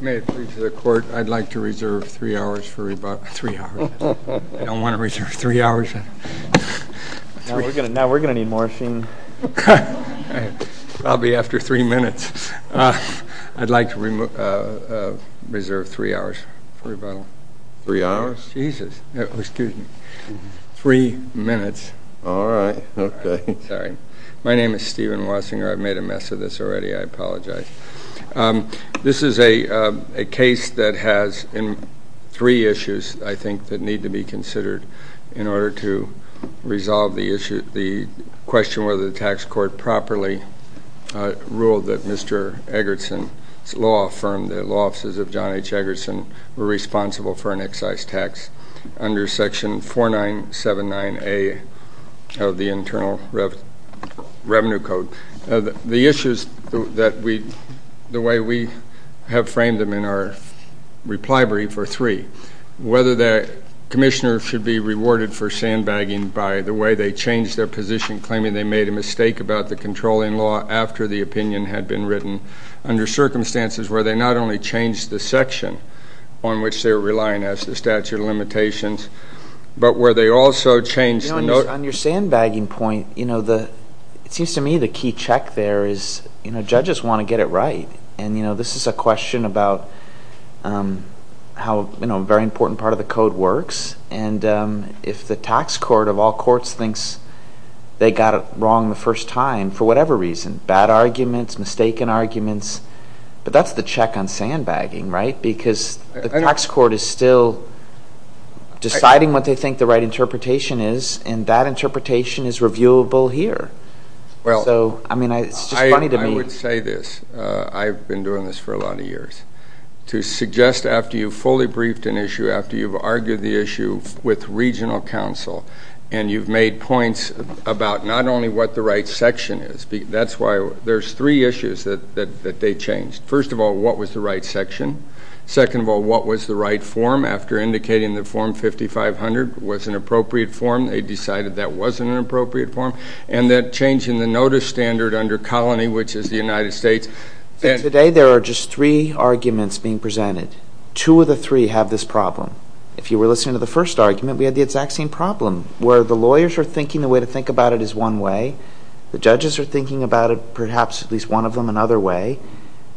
May it please the court, I'd like to reserve three hours for rebuttal. Three hours. I don't want to reserve three hours. Now we're going to need morphing. I'll be after three minutes. I'd like to reserve three hours for rebuttal. Three hours? Jesus. Excuse me. Three minutes. All right. Okay. Sorry. My name is Stephen Wasinger. I've made a mess of this already. I apologize. This is a case that has three issues, I think, that need to be considered in order to Eggertsen's law firm, the Law Offices of John H. Eggertsen, were responsible for an excise tax under section 4979A of the Internal Revenue Code. The issues that we, the way we have framed them in our reply brief are three. Whether the Commissioner should be rewarded for sandbagging by the way they changed their position, claiming they made a mistake about the controlling law after the opinion had been written, under circumstances where they not only changed the section on which they were relying as the statute of limitations, but where they also changed the note. On your sandbagging point, you know, it seems to me the key check there is, you know, judges want to get it right. And, you know, this is a question about how, you know, a very important part of the code works. And if the tax court of all courts thinks they got it right the first time, for whatever reason, bad arguments, mistaken arguments, but that's the check on sandbagging, right? Because the tax court is still deciding what they think the right interpretation is, and that interpretation is reviewable here. So, I mean, it's just funny to me. Well, I would say this. I've been doing this for a lot of years. To suggest after you've fully briefed an issue, after you've argued the issue with regional counsel, and you've made points about not only what the right section is. That's why there's three issues that they changed. First of all, what was the right section? Second of all, what was the right form? After indicating that form 5500 was an appropriate form, they decided that wasn't an appropriate form. And that change in the notice standard under colony, which is the United States. Today, there are just three arguments being presented. Two of the three have this problem. If you were listening to the case, you'd think about it as one way. The judges are thinking about it, perhaps, at least one of them another way.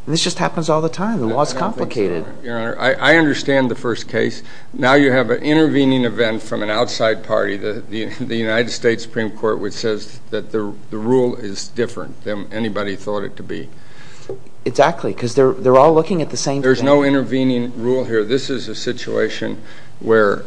And this just happens all the time. The law is complicated. I understand the first case. Now you have an intervening event from an outside party, the United States Supreme Court, which says that the rule is different than anybody thought it to be. Exactly, because they're all looking at the same thing. There's no intervening rule here. This is a situation where...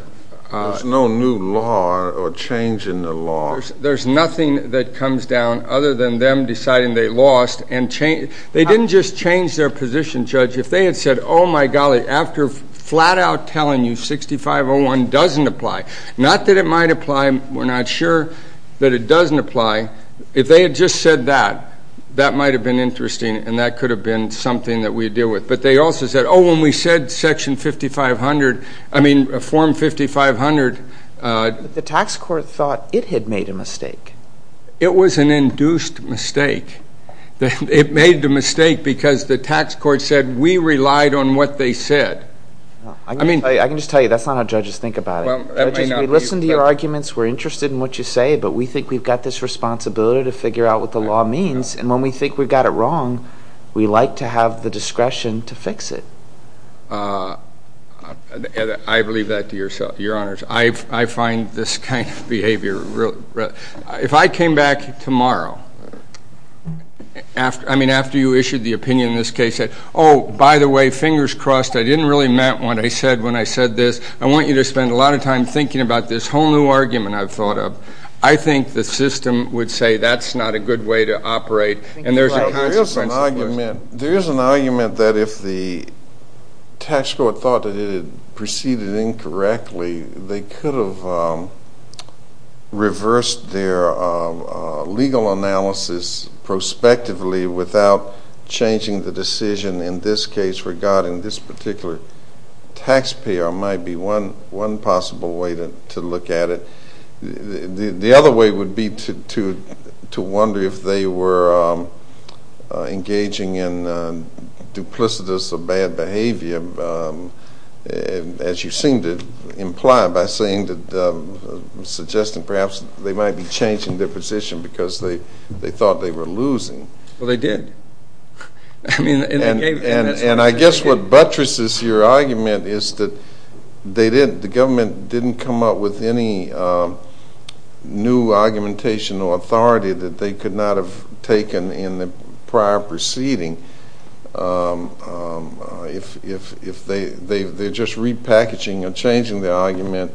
There's no new law or change in the law. There's nothing that comes down other than them deciding they lost. They didn't just change their position, Judge. If they had said, oh my golly, after flat out telling you 6501 doesn't apply, not that it might apply, we're not sure that it doesn't apply. If they had just said that, that might have been interesting and that could have been something that we'd deal with. But they also said, oh, when we said Section 5500, I mean Form 5500... The tax court thought it had made a mistake. It was an induced mistake. It made the mistake because the tax court said we relied on what they said. I can just tell you that's not how judges think about it. Well, that may not be... Judges, we listen to your arguments, we're interested in what you say, but we think we've got this responsibility to figure out what the law means. And when we think we've got it wrong, we like to have the discretion to fix it. I believe that to yourself, Your Honors. I find this kind of behavior really... If I came back tomorrow, I mean, after you issued the opinion in this case that, oh, by the way, fingers crossed, I didn't really meant what I said when I said this. I want you to spend a lot of time thinking about this whole new argument I've thought of. I think the system would say that's not a good way to operate. There is an argument that if the tax court thought that it had proceeded incorrectly, they could have reversed their legal analysis prospectively without changing the decision in this case regarding this particular taxpayer might be one possible way to look at it. The other way would be to wonder if they were engaging in duplicitous or bad behavior, as you seem to imply by saying that...suggesting perhaps they might be changing their position because they thought they were losing. Well, they did. And I guess what buttresses your argument is that they did...the government didn't come up with any new argumentation or authority that they could not have taken in the prior proceeding if they're just repackaging or changing their argument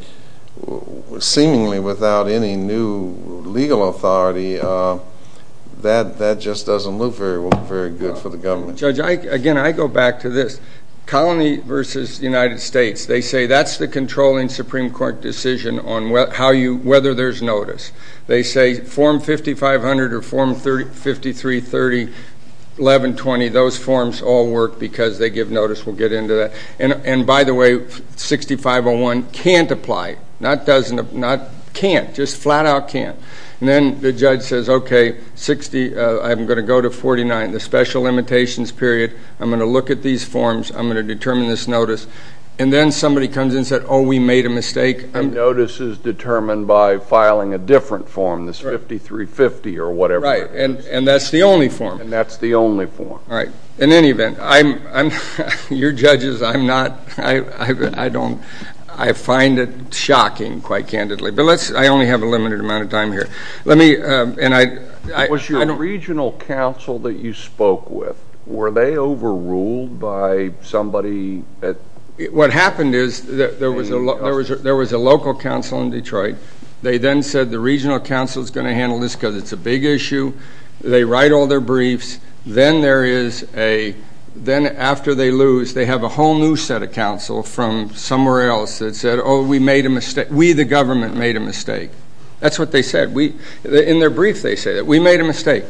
seemingly without any new legal authority. That just doesn't look very good for the government. Judge, again, I go back to this. Colony versus United States. They say that's the controlling Supreme Court decision on whether there's notice. They say form 5500 or form 5330, 1120, those forms all work because they give notice. We'll get into that. And by the way, 6501 can't apply. Not doesn't...can't. Just flat out can't. And then the judge says, okay, 60...I'm going to go to 49, the special limitations period. I'm going to look at these forms. I'm going to determine this notice. And then somebody comes in and says, oh, we made a mistake. Notice is determined by filing a different form, this 5350 or whatever that is. Right. And that's the only form. And that's the only form. All right. In any event, I'm...your judges, I'm not...I don't...I find it shocking quite candidly. But let's...I only have a limited amount of time here. Let me...and I... Was your regional council that you spoke with, were they overruled by somebody that... What happened is that there was a local council in Detroit. They then said the regional council is going to handle this because it's a big issue. They write all their briefs. Then there is a...then after they lose, they have a whole new set of council from somewhere else that said, oh, we made a mistake. We, the government, made a mistake. That's what they said. We...in their brief, they say that. We made a mistake.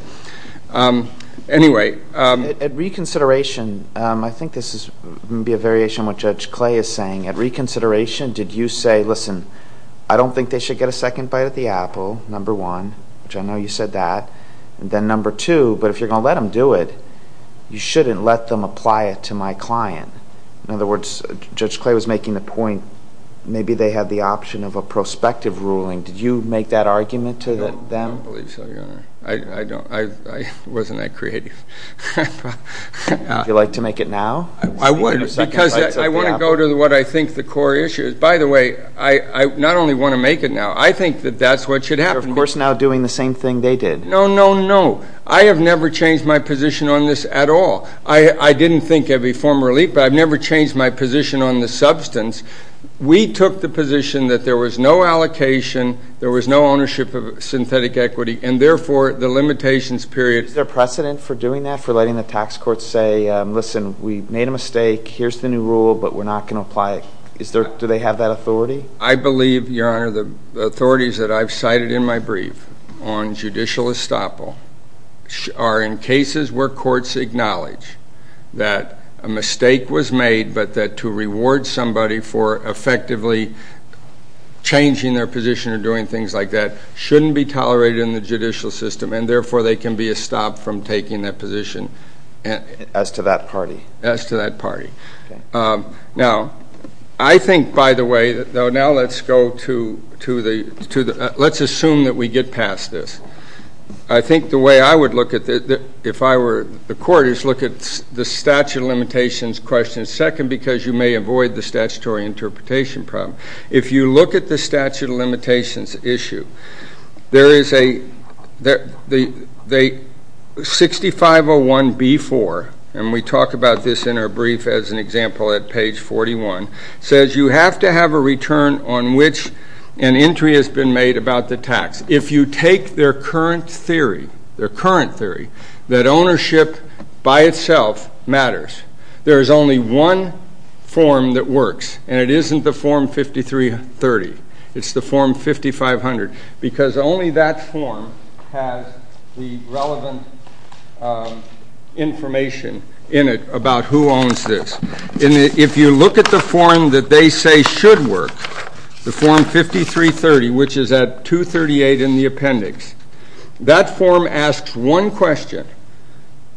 Anyway... At reconsideration, I think this is going to be a variation of what Judge Clay is saying. At reconsideration, did you say, listen, I don't think they should get a second bite at the apple, number one, which I know you said that, and then number two, but if you're going to let them do it, you shouldn't let them apply it to my client. In other words, Judge Clay was making the point, maybe they have the option of a prospective ruling. Did you make that argument to them? I don't believe so, Your Honor. I don't. I wasn't that creative. Would you like to make it now? I would because I want to go to what I think the core issue is. By the way, I not only want to make it now, I think that that's what should happen. You're, of course, now doing the same thing they did. No, no, no. I have never changed my position on this at all. I didn't think I'd be formally, but I've never changed my position on the substance. We took the position that there was no allocation, there was no ownership of synthetic equity, and therefore, the limitations period— Is there precedent for doing that, for letting the tax courts say, listen, we made a mistake, here's the new rule, but we're not going to apply it? Do they have that authority? I believe, Your Honor, the authorities that I've cited in my brief on judicial estoppel are in cases where courts acknowledge that a mistake was made, but that to reward somebody for effectively changing their position or doing things like that shouldn't be tolerated in the judicial system, and therefore, they can be estopped from taking that position. As to that party? As to that party. Now, I think, by the way, now let's go to the—let's assume that we get past this. I think the way I would look at it, if I were the court, is look at the statute of limitations question second, because you may avoid the statutory interpretation problem. If you look at the statute of limitations issue, there is a—6501B4, and we talk about this in our brief as an example at page 41, says you have to have a return on which an entry has been made about the tax. If you take their current theory, their current theory, that ownership by itself matters, there is only one form that works, and it isn't the form 5330. It's the form 5500, because only that form has the relevant information in it about who owns this. If you look at the form that they say should work, the form 5330, which is at 238 in the appendix, that form asks one question,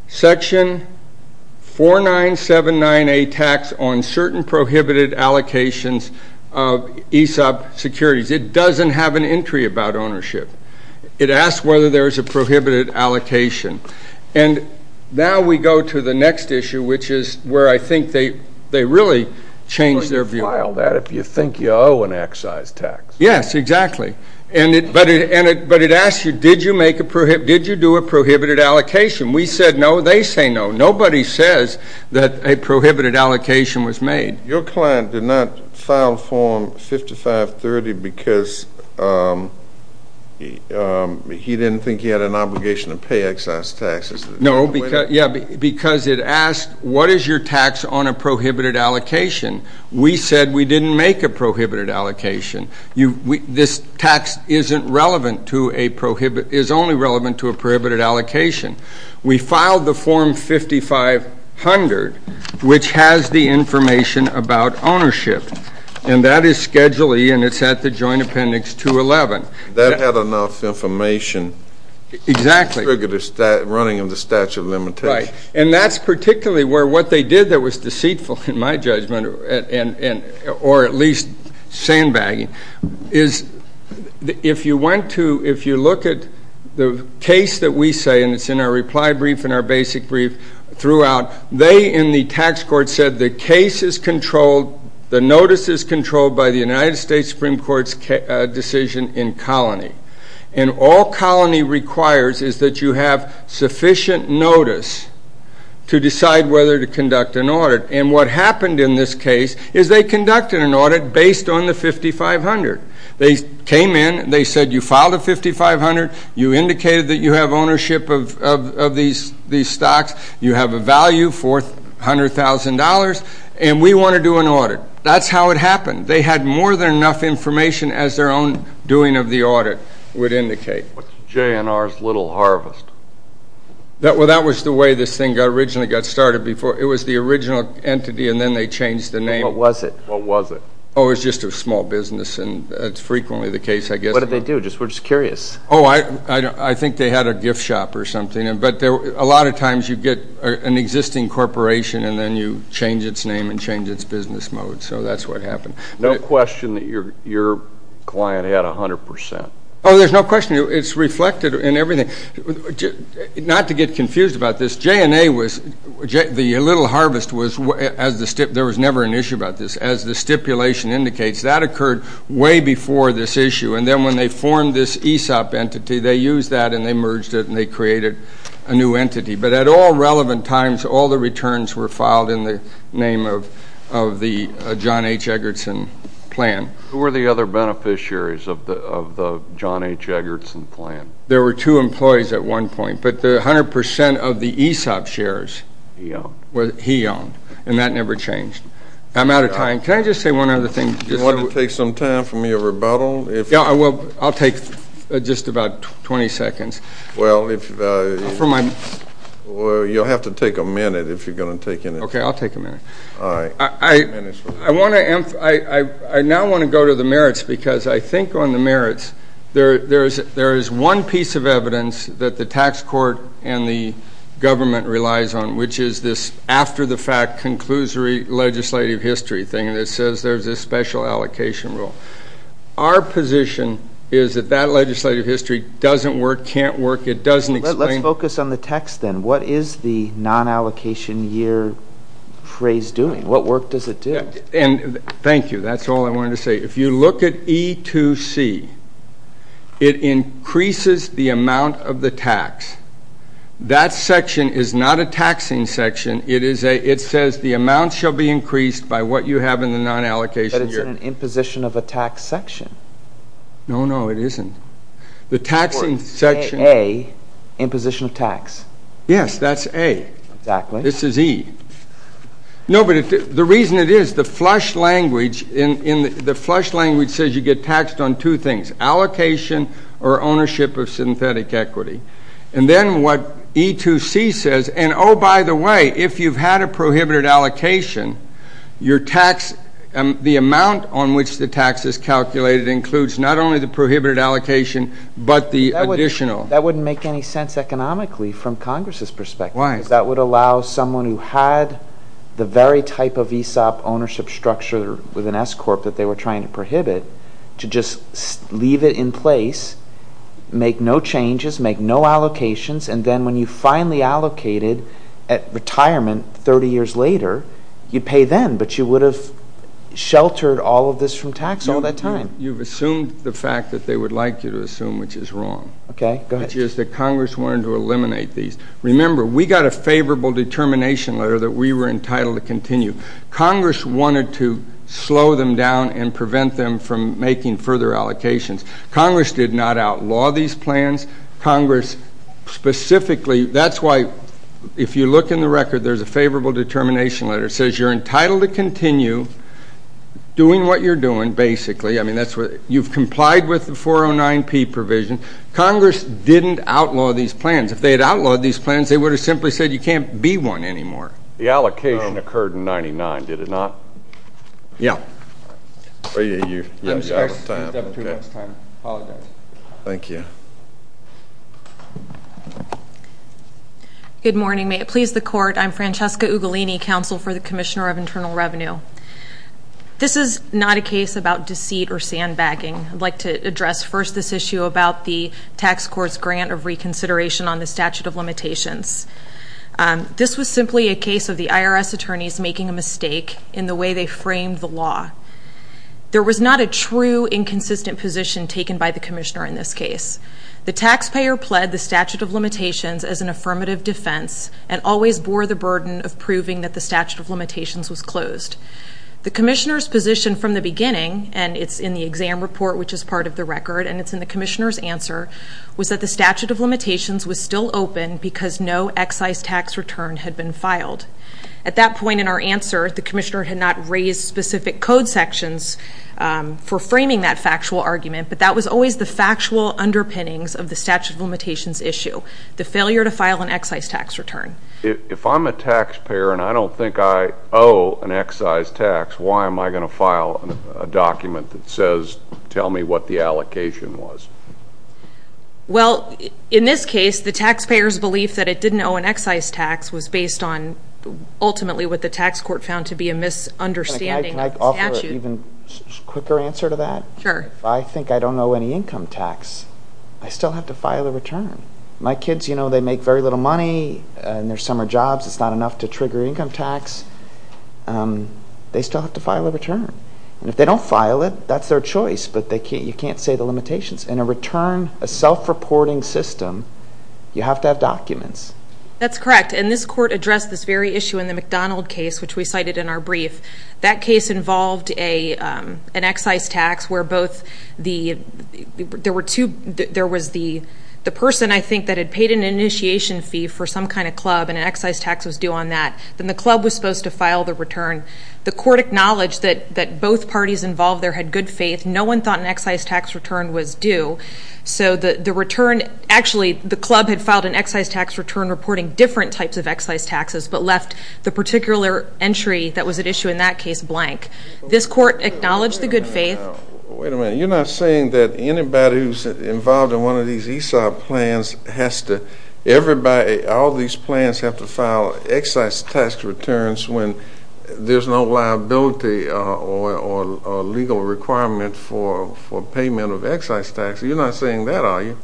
section 4979A, tax on certain prohibited allocations of ESOP securities. It doesn't have an entry about ownership. It asks whether there is a prohibited allocation, and now we go to the next issue, which is where I think they really change their view. But you file that if you think you owe an excise tax. Yes, exactly, but it asks you, did you do a prohibited allocation? We said no. They say no. Nobody says that a prohibited allocation was made. Your client did not file form 5530 because he didn't think he had an obligation to pay excise taxes. No, because it asks, what is your tax on a prohibited allocation? We said we didn't make a prohibited allocation. This tax is only relevant to a prohibited allocation. We filed the form 5500, which has the information about ownership, and that is Schedule E, and it's at the joint appendix 211. That had enough information to trigger the running of the statute of limitations. And that's particularly where what they did that was deceitful, in my judgment, or at least sandbagging, is if you look at the case that we say, and it's in our reply brief and our basic brief throughout, they in the tax court said the case is controlled, the notice is controlled by the United States Supreme Court's decision in colony. And all colony requires is that you have sufficient notice to decide whether to conduct an audit. And what happened in this case is they conducted an audit based on the 5500. They came in, they said you filed a 5500, you indicated that you have ownership of these stocks, you have a value for $100,000, and we want to do an audit. That's how it happened. They had more than enough information as their own doing of the audit would indicate. What's J&R's little harvest? Well, that was the way this thing originally got started. It was the original entity, and then they changed the name. What was it? What was it? Oh, it was just a small business, and that's frequently the case, I guess. What did they do? We're just curious. Oh, I think they had a gift shop or something. But a lot of times you get an existing corporation, and then you change its name and change its business mode. So that's what happened. No question that your client had 100%? Oh, there's no question. It's reflected in everything. Not to get confused about this, J&A was, the little harvest was, as the stip, there was never an issue about this. As the stipulation indicates, that occurred way before this issue. And then when they formed this ESOP entity, they used that and they merged it and they created a new entity. But at all relevant times, all the returns were filed in the name of the John H. Eggertson plan. Who were the other beneficiaries of the John H. Eggertson plan? There were two employees at one point, but 100% of the ESOP shares he owned, and that never changed. I'm out of time. Can I just say one other thing? Do you want to take some time from your rebuttal? Yeah, I will. I'll take just about 20 seconds. Well, you'll have to take a minute if you're going to take any. Okay, I'll take a minute. All right. I want to, I now want to go to the merits, because I think on the merits, there is one piece of evidence that the tax court and the government relies on, which is this after the fact, conclusory legislative history thing that says there's a special allocation rule. Our position is that that legislative history doesn't work, can't work. It doesn't explain. Let's focus on the text then. What is the non-allocation year phrase doing? What work does it do? And thank you. That's all I wanted to say. If you look at E2C, it increases the amount of the tax. That section is not a taxing section. It is a, it says the amount shall be increased by what you have in the non-allocation year. But it's in an imposition of a tax section. No, no, it isn't. The taxing section. Of course. A, A, imposition of tax. Yes, that's A. Exactly. This is E. No, but the reason it is, the flush language, the flush language says you get taxed on two things, allocation or ownership of synthetic equity. And then what E2C says, and oh, by the way, if you've had a prohibited allocation, your amount on which the tax is calculated includes not only the prohibited allocation, but the additional. That wouldn't make any sense economically from Congress's perspective. Why? Because that would allow someone who had the very type of ESOP ownership structure with an S-Corp that they were trying to prohibit to just leave it in place, make no changes, make no allocations, and then when you finally allocated at retirement 30 years later, you'd have sheltered all of this from tax all that time. You've assumed the fact that they would like you to assume, which is wrong. Okay. Go ahead. Which is that Congress wanted to eliminate these. Remember, we got a favorable determination letter that we were entitled to continue. Congress wanted to slow them down and prevent them from making further allocations. Congress did not outlaw these plans. Congress specifically, that's why if you look in the record, there's a favorable determination letter. It says you're entitled to continue doing what you're doing, basically. You've complied with the 409-P provision. Congress didn't outlaw these plans. If they had outlawed these plans, they would have simply said you can't be one anymore. The allocation occurred in 99, did it not? Yeah. I'm sorry. You have two minutes time. Apologize. Thank you. Good morning. May it please the court. I'm Francesca Ugolini, Counsel for the Commissioner of Internal Revenue. This is not a case about deceit or sandbagging. I'd like to address first this issue about the tax court's grant of reconsideration on the statute of limitations. This was simply a case of the IRS attorneys making a mistake in the way they framed the law. There was not a true inconsistent position taken by the commissioner in this case. The taxpayer pled the statute of limitations as an affirmative defense and always bore the burden of proving that the statute of limitations was closed. The commissioner's position from the beginning, and it's in the exam report, which is part of the record, and it's in the commissioner's answer, was that the statute of limitations was still open because no excise tax return had been filed. At that point in our answer, the commissioner had not raised specific code sections for framing that factual argument, but that was always the factual underpinnings of the statute of limitations issue, the failure to file an excise tax return. If I'm a taxpayer and I don't think I owe an excise tax, why am I going to file a document that says, tell me what the allocation was? Well, in this case, the taxpayer's belief that it didn't owe an excise tax was based on ultimately what the tax court found to be a misunderstanding of the statute. Can I offer an even quicker answer to that? Sure. If I think I don't owe any income tax, I still have to file a return. My kids, you know, they make very little money, and their summer jobs, it's not enough to trigger income tax. They still have to file a return, and if they don't file it, that's their choice, but you can't say the limitations. In a return, a self-reporting system, you have to have documents. That's correct, and this court addressed this very issue in the McDonald case, which we cited in our brief. That case involved an excise tax where both the, there were two, there was the person, I think, that had paid an initiation fee for some kind of club, and an excise tax was due on that. Then the club was supposed to file the return. The court acknowledged that both parties involved there had good faith. No one thought an excise tax return was due, so the return, actually, the club had filed an excise tax return reporting different types of excise taxes, but left the particular entry that was at issue in that case blank. This court acknowledged the good faith. Wait a minute. You're not saying that anybody who's involved in one of these ESOP plans has to, everybody, all these plans have to file excise tax returns when there's no liability or legal requirement for payment of excise tax. You're not saying that, are you?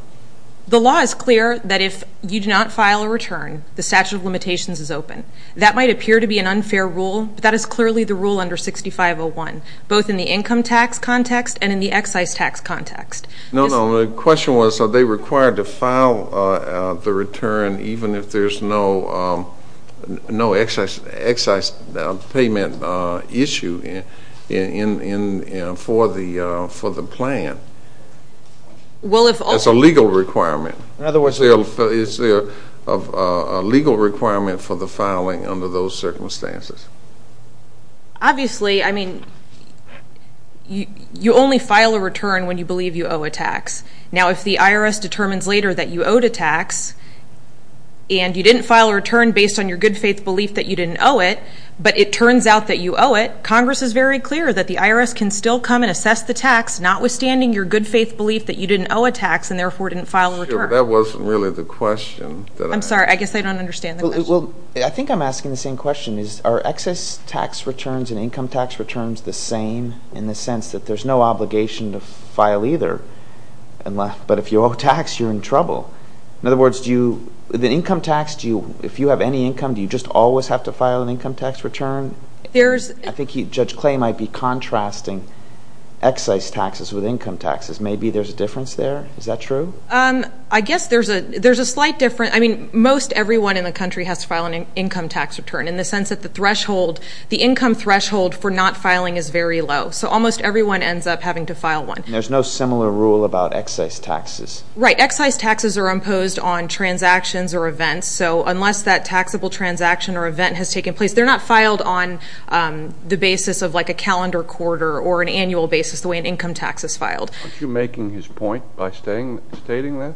The law is clear that if you do not file a return, the statute of limitations is open. That might appear to be an unfair rule, but that is clearly the rule under 6501, both in the income tax context and in the excise tax context. No, no. The question was, are they required to file the return even if there's no excise payment issue for the plan? Well, if all... That's a legal requirement. In other words, is there a legal requirement for the filing under those circumstances? Obviously. I mean, you only file a return when you believe you owe a tax. Now, if the IRS determines later that you owed a tax and you didn't file a return based on your good faith belief that you didn't owe it, but it turns out that you owe it, Congress is very clear that the IRS can still come and assess the tax notwithstanding your good faith belief that you didn't owe a tax and therefore didn't file a return. That wasn't really the question. I'm sorry. I guess I don't understand the question. Well, I think I'm asking the same question. Are excise tax returns and income tax returns the same in the sense that there's no obligation to file either, but if you owe a tax, you're in trouble? In other words, the income tax, if you have any income, do you just always have to file an income tax return? I think Judge Clay might be contrasting excise taxes with income taxes. Maybe there's a difference there. Is that true? I guess there's a slight difference. I mean, most everyone in the country has to file an income tax return in the sense that the income threshold for not filing is very low, so almost everyone ends up having to file one. And there's no similar rule about excise taxes? Right. Excise taxes are imposed on transactions or events, so unless that taxable transaction or event has taken place, they're not filed on the basis of like a calendar quarter or an annual basis the way an income tax is filed. Aren't you making his point by stating that?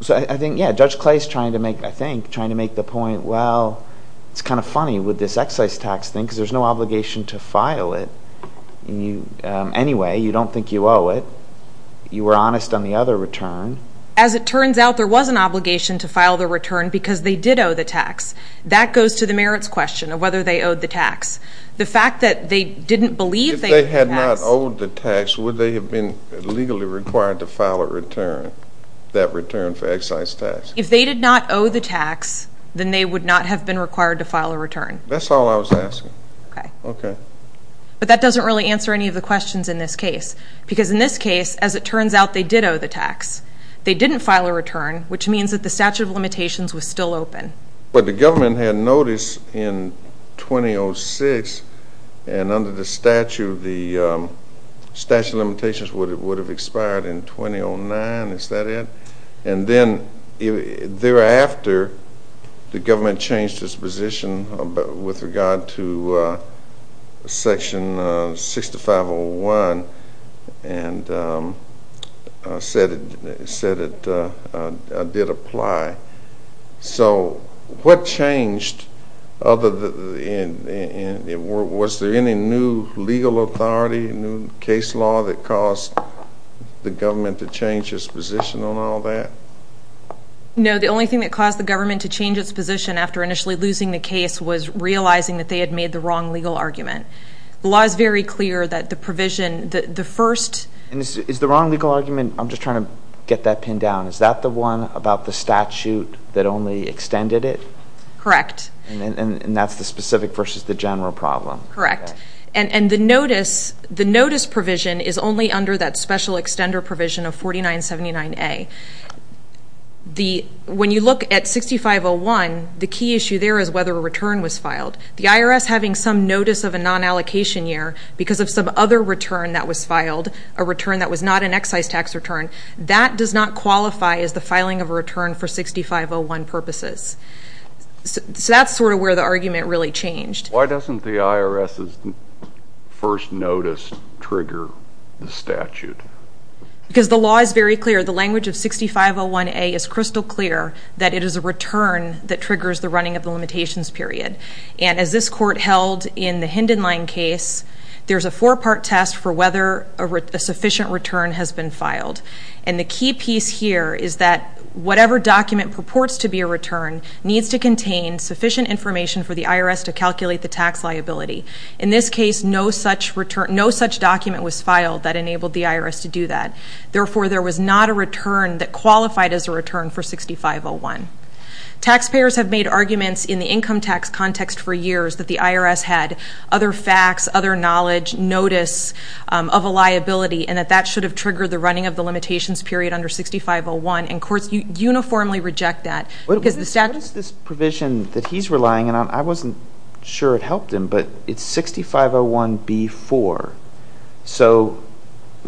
So I think, yeah, Judge Clay's trying to make, I think, trying to make the point, well, it's kind of funny with this excise tax thing, because there's no obligation to file it anyway. You don't think you owe it. You were honest on the other return. As it turns out, there was an obligation to file the return because they did owe the tax. That goes to the merits question of whether they owed the tax. The fact that they didn't believe they owed the tax... If they had not owed the tax, would they have been legally required to file a return, that return for excise tax? If they did not owe the tax, then they would not have been required to file a return. That's all I was asking. Okay. Okay. But that doesn't really answer any of the questions in this case, because in this case, as it turns out, they did owe the tax. They didn't file a return, which means that the statute of limitations was still open. But the government had notice in 2006, and under the statute, the statute of limitations would have expired in 2009, is that it? And then thereafter, the government changed its position with regard to Section 6501, and said it did apply. So, what changed other than... Was there any new legal authority, new case law that caused the government to change its position on all that? No. The only thing that caused the government to change its position after initially losing the case was realizing that they had made the wrong legal argument. The law is very clear that the provision, the first... Is the wrong legal argument... I'm just trying to get that pinned down. Is that the one about the statute that only extended it? Correct. And that's the specific versus the general problem? Correct. And the notice provision is only under that special extender provision of 4979A. When you look at 6501, the key issue there is whether a return was filed. The IRS having some notice of a non-allocation year because of some other return that was is the filing of a return for 6501 purposes. So that's sort of where the argument really changed. Why doesn't the IRS's first notice trigger the statute? Because the law is very clear. The language of 6501A is crystal clear that it is a return that triggers the running of the limitations period. And as this court held in the Hinden Line case, there's a four-part test for whether a sufficient return has been filed. And the key piece here is that whatever document purports to be a return needs to contain sufficient information for the IRS to calculate the tax liability. In this case, no such document was filed that enabled the IRS to do that. Therefore, there was not a return that qualified as a return for 6501. Taxpayers have made arguments in the income tax context for years that the IRS had other facts, other knowledge, notice of a liability, and that that should have triggered the running of the limitations period under 6501. And courts uniformly reject that. What is this provision that he's relying on? I wasn't sure it helped him, but it's 6501B-4. So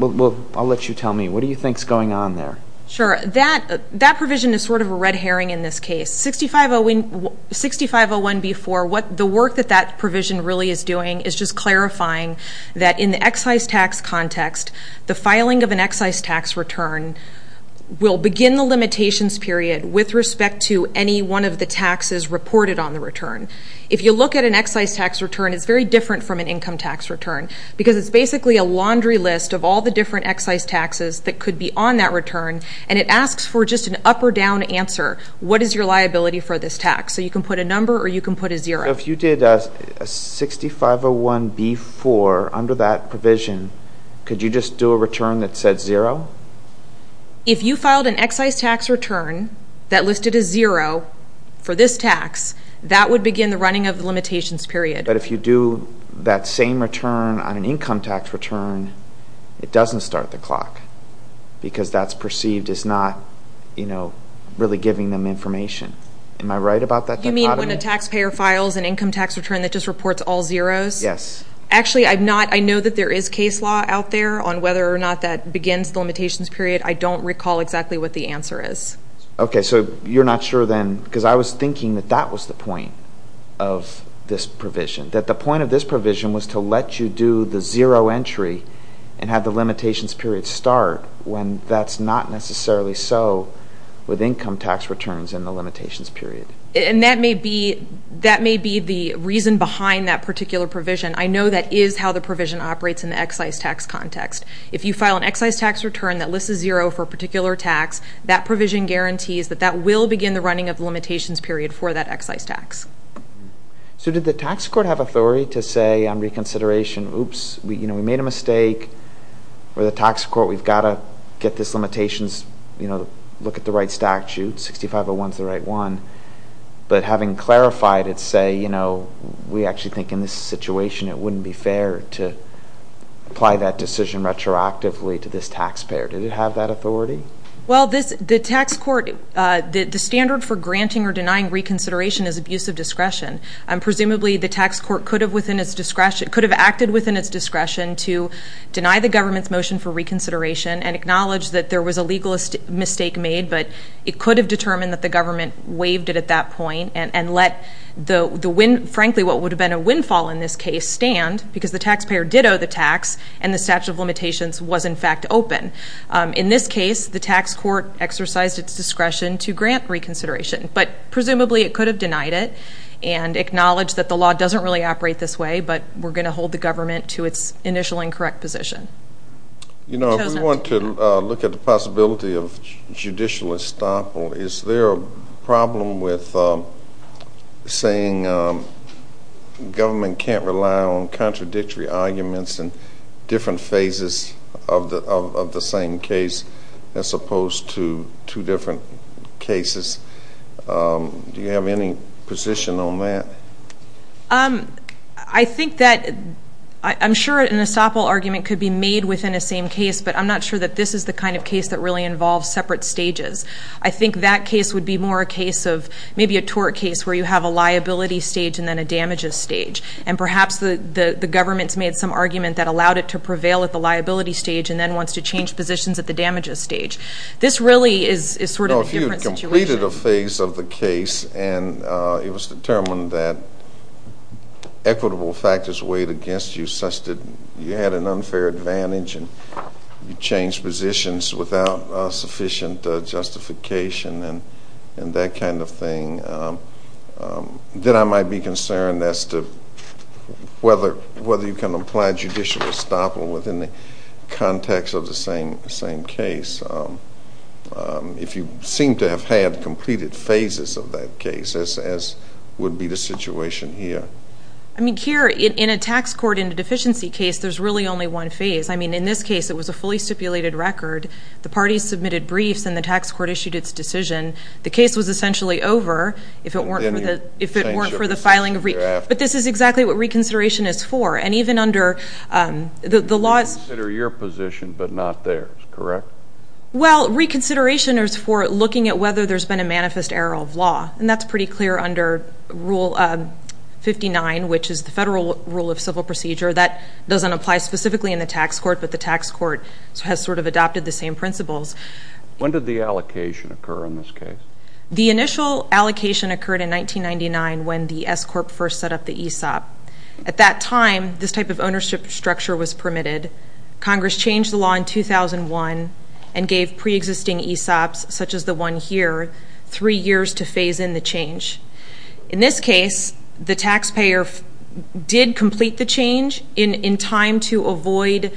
I'll let you tell me, what do you think is going on there? Sure. That provision is sort of a red herring in this case. 6501B-4, the work that that provision really is doing is just clarifying that in the excise tax context, the filing of an excise tax return will begin the limitations period with respect to any one of the taxes reported on the return. If you look at an excise tax return, it's very different from an income tax return because it's basically a laundry list of all the different excise taxes that could be on that return, and it asks for just an up or down answer. What is your liability for this tax? So you can put a number or you can put a zero. So if you did a 6501B-4 under that provision, could you just do a return that said zero? If you filed an excise tax return that listed a zero for this tax, that would begin the running of the limitations period. But if you do that same return on an income tax return, it doesn't start the clock because that's perceived as not, you know, really giving them information. Am I right about that dichotomy? Do you mean when a taxpayer files an income tax return that just reports all zeros? Yes. Actually, I'm not, I know that there is case law out there on whether or not that begins the limitations period. I don't recall exactly what the answer is. Okay, so you're not sure then, because I was thinking that that was the point of this provision, that the point of this provision was to let you do the zero entry and have the limitations period start when that's not necessarily so with income tax returns in the limitations period. And that may be, that may be the reason behind that particular provision. I know that is how the provision operates in the excise tax context. If you file an excise tax return that lists a zero for a particular tax, that provision guarantees that that will begin the running of the limitations period for that excise tax. So did the tax court have authority to say on reconsideration, oops, you know, we made a mistake, or the tax court, we've got to get this limitations, you know, look at the right statute, 6501 is the right one, but having clarified it, say, you know, we actually think in this situation it wouldn't be fair to apply that decision retroactively to this taxpayer. Did it have that authority? Well, this, the tax court, the standard for granting or denying reconsideration is abuse of discretion. Presumably, the tax court could have within its discretion, could have acted within its discretion to deny the government's motion for reconsideration and acknowledge that there was a legal mistake made, but it could have determined that the government waived it at that point and let the wind, frankly, what would have been a windfall in this case, stand because the taxpayer did owe the tax and the statute of limitations was, in fact, open. In this case, the tax court exercised its discretion to grant reconsideration, but presumably it could have denied it and acknowledged that the law doesn't really operate this way, but we're going to hold the government to its initial incorrect position. You know, if we want to look at the possibility of judicial estoppel, is there a problem with saying government can't rely on contradictory arguments and different phases of the same case as opposed to two different cases? Do you have any position on that? I think that I'm sure an estoppel argument could be made within a same case, but I'm not sure that this is the kind of case that really involves separate stages. I think that case would be more a case of maybe a tort case where you have a liability stage and then a damages stage, and perhaps the government's made some argument that allowed it to prevail at the liability stage and then wants to change positions at the damages stage. This really is sort of a different situation. You completed a phase of the case and it was determined that equitable factors weighed against you such that you had an unfair advantage and you changed positions without sufficient justification and that kind of thing. Then I might be concerned as to whether you can apply judicial estoppel within the context of the same case. If you seem to have had completed phases of that case, as would be the situation here. I mean, here in a tax court in a deficiency case, there's really only one phase. I mean, in this case, it was a fully stipulated record. The parties submitted briefs and the tax court issued its decision. The case was essentially over if it weren't for the filing. But this is exactly what reconsideration is for. You reconsider your position but not theirs, correct? Well, reconsideration is for looking at whether there's been a manifest error of law. And that's pretty clear under Rule 59, which is the federal rule of civil procedure. That doesn't apply specifically in the tax court, but the tax court has sort of adopted the same principles. When did the allocation occur in this case? The initial allocation occurred in 1999 when the S-Corp first set up the ESOP. At that time, this type of ownership structure was permitted. Congress changed the law in 2001 and gave preexisting ESOPs, such as the one here, three years to phase in the change. In this case, the taxpayer did complete the change in time to avoid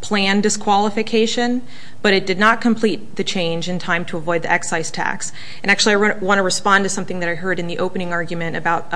planned disqualification, but it did not complete the change in time to avoid the excise tax. And actually, I want to respond to something that I heard in the opening argument about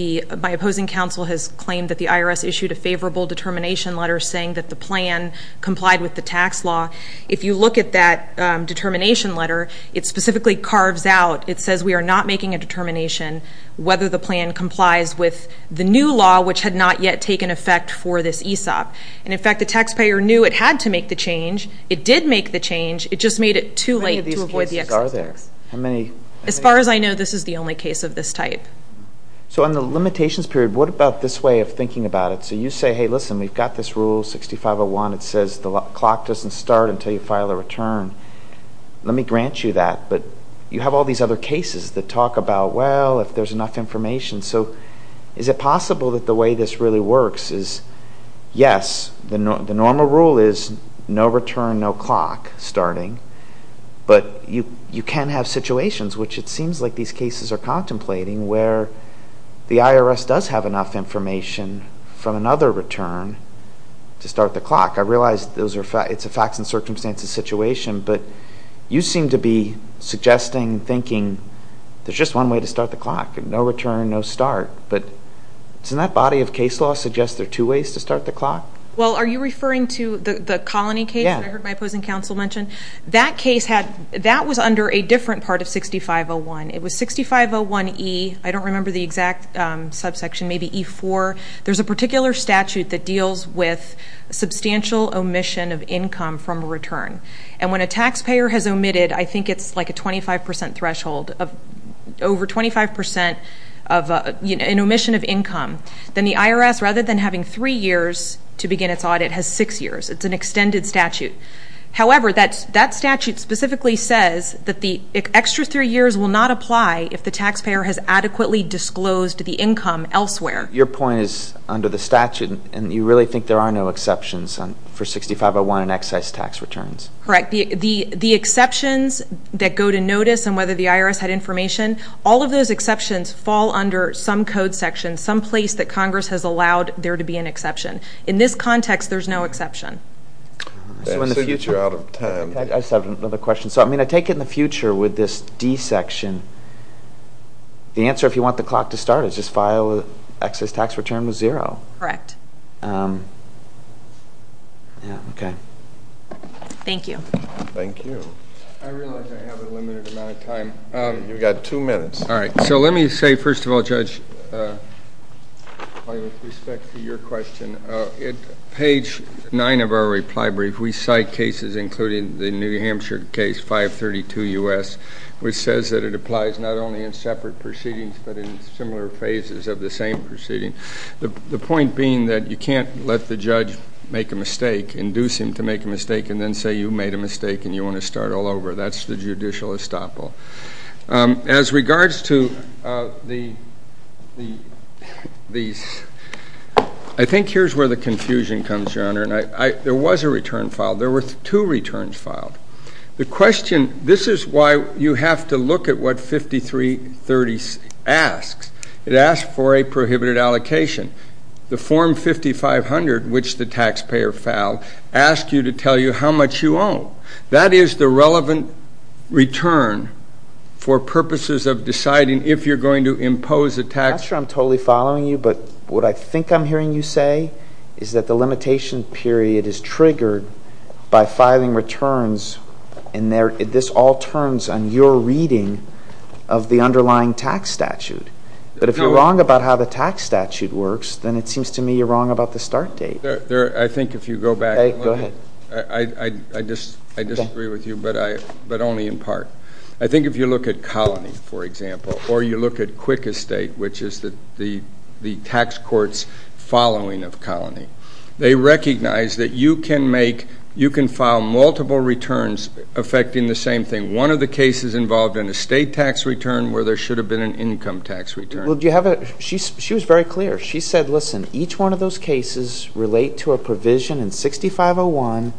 my opposing counsel has claimed that the IRS issued a favorable determination letter saying that the plan complied with the tax law. If you look at that determination letter, it specifically carves out, it says we are not making a determination whether the plan complies with the new law, which had not yet taken effect for this ESOP. And, in fact, the taxpayer knew it had to make the change. It did make the change. It just made it too late to avoid the excise tax. How many of these cases are there? So in the limitations period, what about this way of thinking about it? So you say, hey, listen, we've got this rule, 6501, it says the clock doesn't start until you file a return. Let me grant you that, but you have all these other cases that talk about, well, if there's enough information. So is it possible that the way this really works is, yes, the normal rule is no return, no clock starting, but you can have situations, which it seems like these cases are contemplating, where the IRS does have enough information from another return to start the clock. I realize it's a facts and circumstances situation, but you seem to be suggesting, thinking there's just one way to start the clock, no return, no start. But doesn't that body of case law suggest there are two ways to start the clock? Well, are you referring to the colony case that I heard my opposing counsel mention? That was under a different part of 6501. It was 6501E, I don't remember the exact subsection, maybe E4. There's a particular statute that deals with substantial omission of income from a return. And when a taxpayer has omitted, I think it's like a 25% threshold, over 25% of an omission of income, then the IRS, rather than having three years to begin its audit, has six years. It's an extended statute. However, that statute specifically says that the extra three years will not apply if the taxpayer has adequately disclosed the income elsewhere. Your point is under the statute, and you really think there are no exceptions for 6501 and excess tax returns? Correct. The exceptions that go to notice on whether the IRS had information, all of those exceptions fall under some code section, some place that Congress has allowed there to be an exception. In this context, there's no exception. I see you're out of time. I just have another question. So, I mean, I take it in the future with this D section, the answer, if you want the clock to start, is just file excess tax return with zero. Correct. Yeah, okay. Thank you. Thank you. I realize I have a limited amount of time. You've got two minutes. All right. So let me say, first of all, Judge, with respect to your question, at page 9 of our reply brief, we cite cases, including the New Hampshire case 532 U.S., which says that it applies not only in separate proceedings but in similar phases of the same proceeding. The point being that you can't let the judge make a mistake, induce him to make a mistake, and then say you made a mistake and you want to start all over. That's the judicial estoppel. As regards to these, I think here's where the confusion comes, Your Honor, and there was a return filed. There were two returns filed. The question, this is why you have to look at what 5330 asks. It asks for a prohibited allocation. The Form 5500, which the taxpayer filed, asks you to tell you how much you own. That is the relevant return for purposes of deciding if you're going to impose a tax. I'm sure I'm totally following you, but what I think I'm hearing you say is that the limitation period is triggered by filing returns, and this all turns on your reading of the underlying tax statute. But if you're wrong about how the tax statute works, then it seems to me you're wrong about the start date. I think if you go back. Go ahead. I disagree with you, but only in part. I think if you look at Colony, for example, or you look at Quick Estate, which is the tax court's following of Colony, they recognize that you can file multiple returns affecting the same thing. One of the cases involved an estate tax return where there should have been an income tax return. She was very clear. She said, listen, each one of those cases relate to a provision in 6501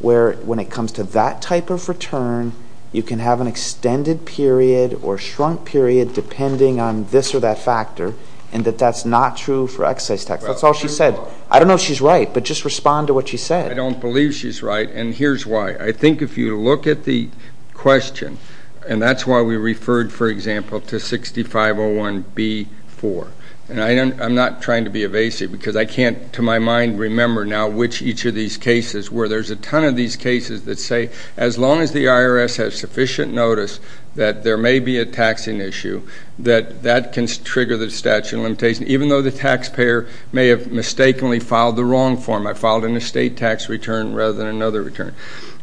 where when it comes to that type of return, you can have an extended period or shrunk period depending on this or that factor, and that that's not true for excise tax. That's all she said. I don't know if she's right, but just respond to what she said. I don't believe she's right, and here's why. I think if you look at the question, and that's why we referred, for example, to 6501B-4. And I'm not trying to be evasive because I can't, to my mind, remember now which each of these cases were. There's a ton of these cases that say as long as the IRS has sufficient notice that there may be a taxing issue, that that can trigger the statute of limitations, even though the taxpayer may have mistakenly filed the wrong form. I filed an estate tax return rather than another return.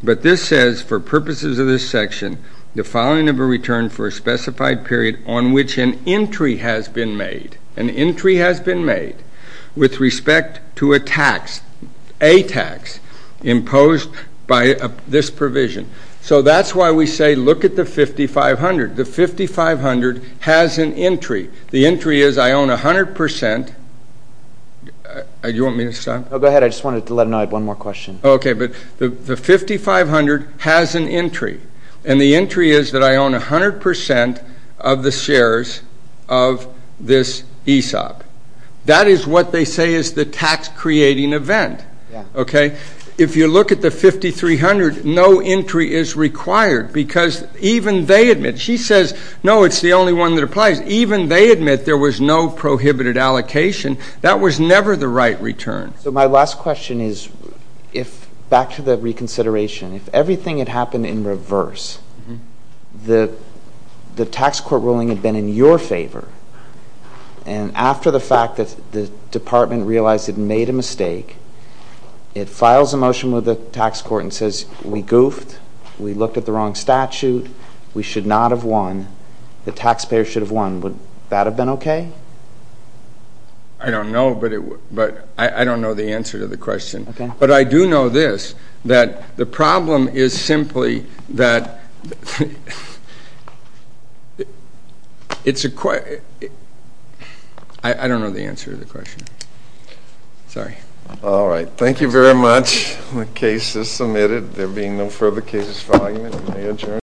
But this says for purposes of this section, the filing of a return for a specified period on which an entry has been made, an entry has been made with respect to a tax, a tax imposed by this provision. So that's why we say look at the 5500. The 5500 has an entry. The entry is I own 100 percent. Do you want me to stop? No, go ahead. I just wanted to let them know I had one more question. Okay, but the 5500 has an entry. And the entry is that I own 100 percent of the shares of this ESOP. That is what they say is the tax-creating event. Okay? If you look at the 5300, no entry is required because even they admit, she says, no, it's the only one that applies. Even they admit there was no prohibited allocation. That was never the right return. So my last question is back to the reconsideration. If everything had happened in reverse, the tax court ruling had been in your favor, and after the fact that the department realized it made a mistake, it files a motion with the tax court and says we goofed, we looked at the wrong statute, we should not have won, the taxpayer should have won. Would that have been okay? I don't know, but I don't know the answer to the question. But I do know this, that the problem is simply that it's a question. I don't know the answer to the question. Sorry. All right. Thank you very much. The case is submitted. There being no further cases for argument, I may adjourn.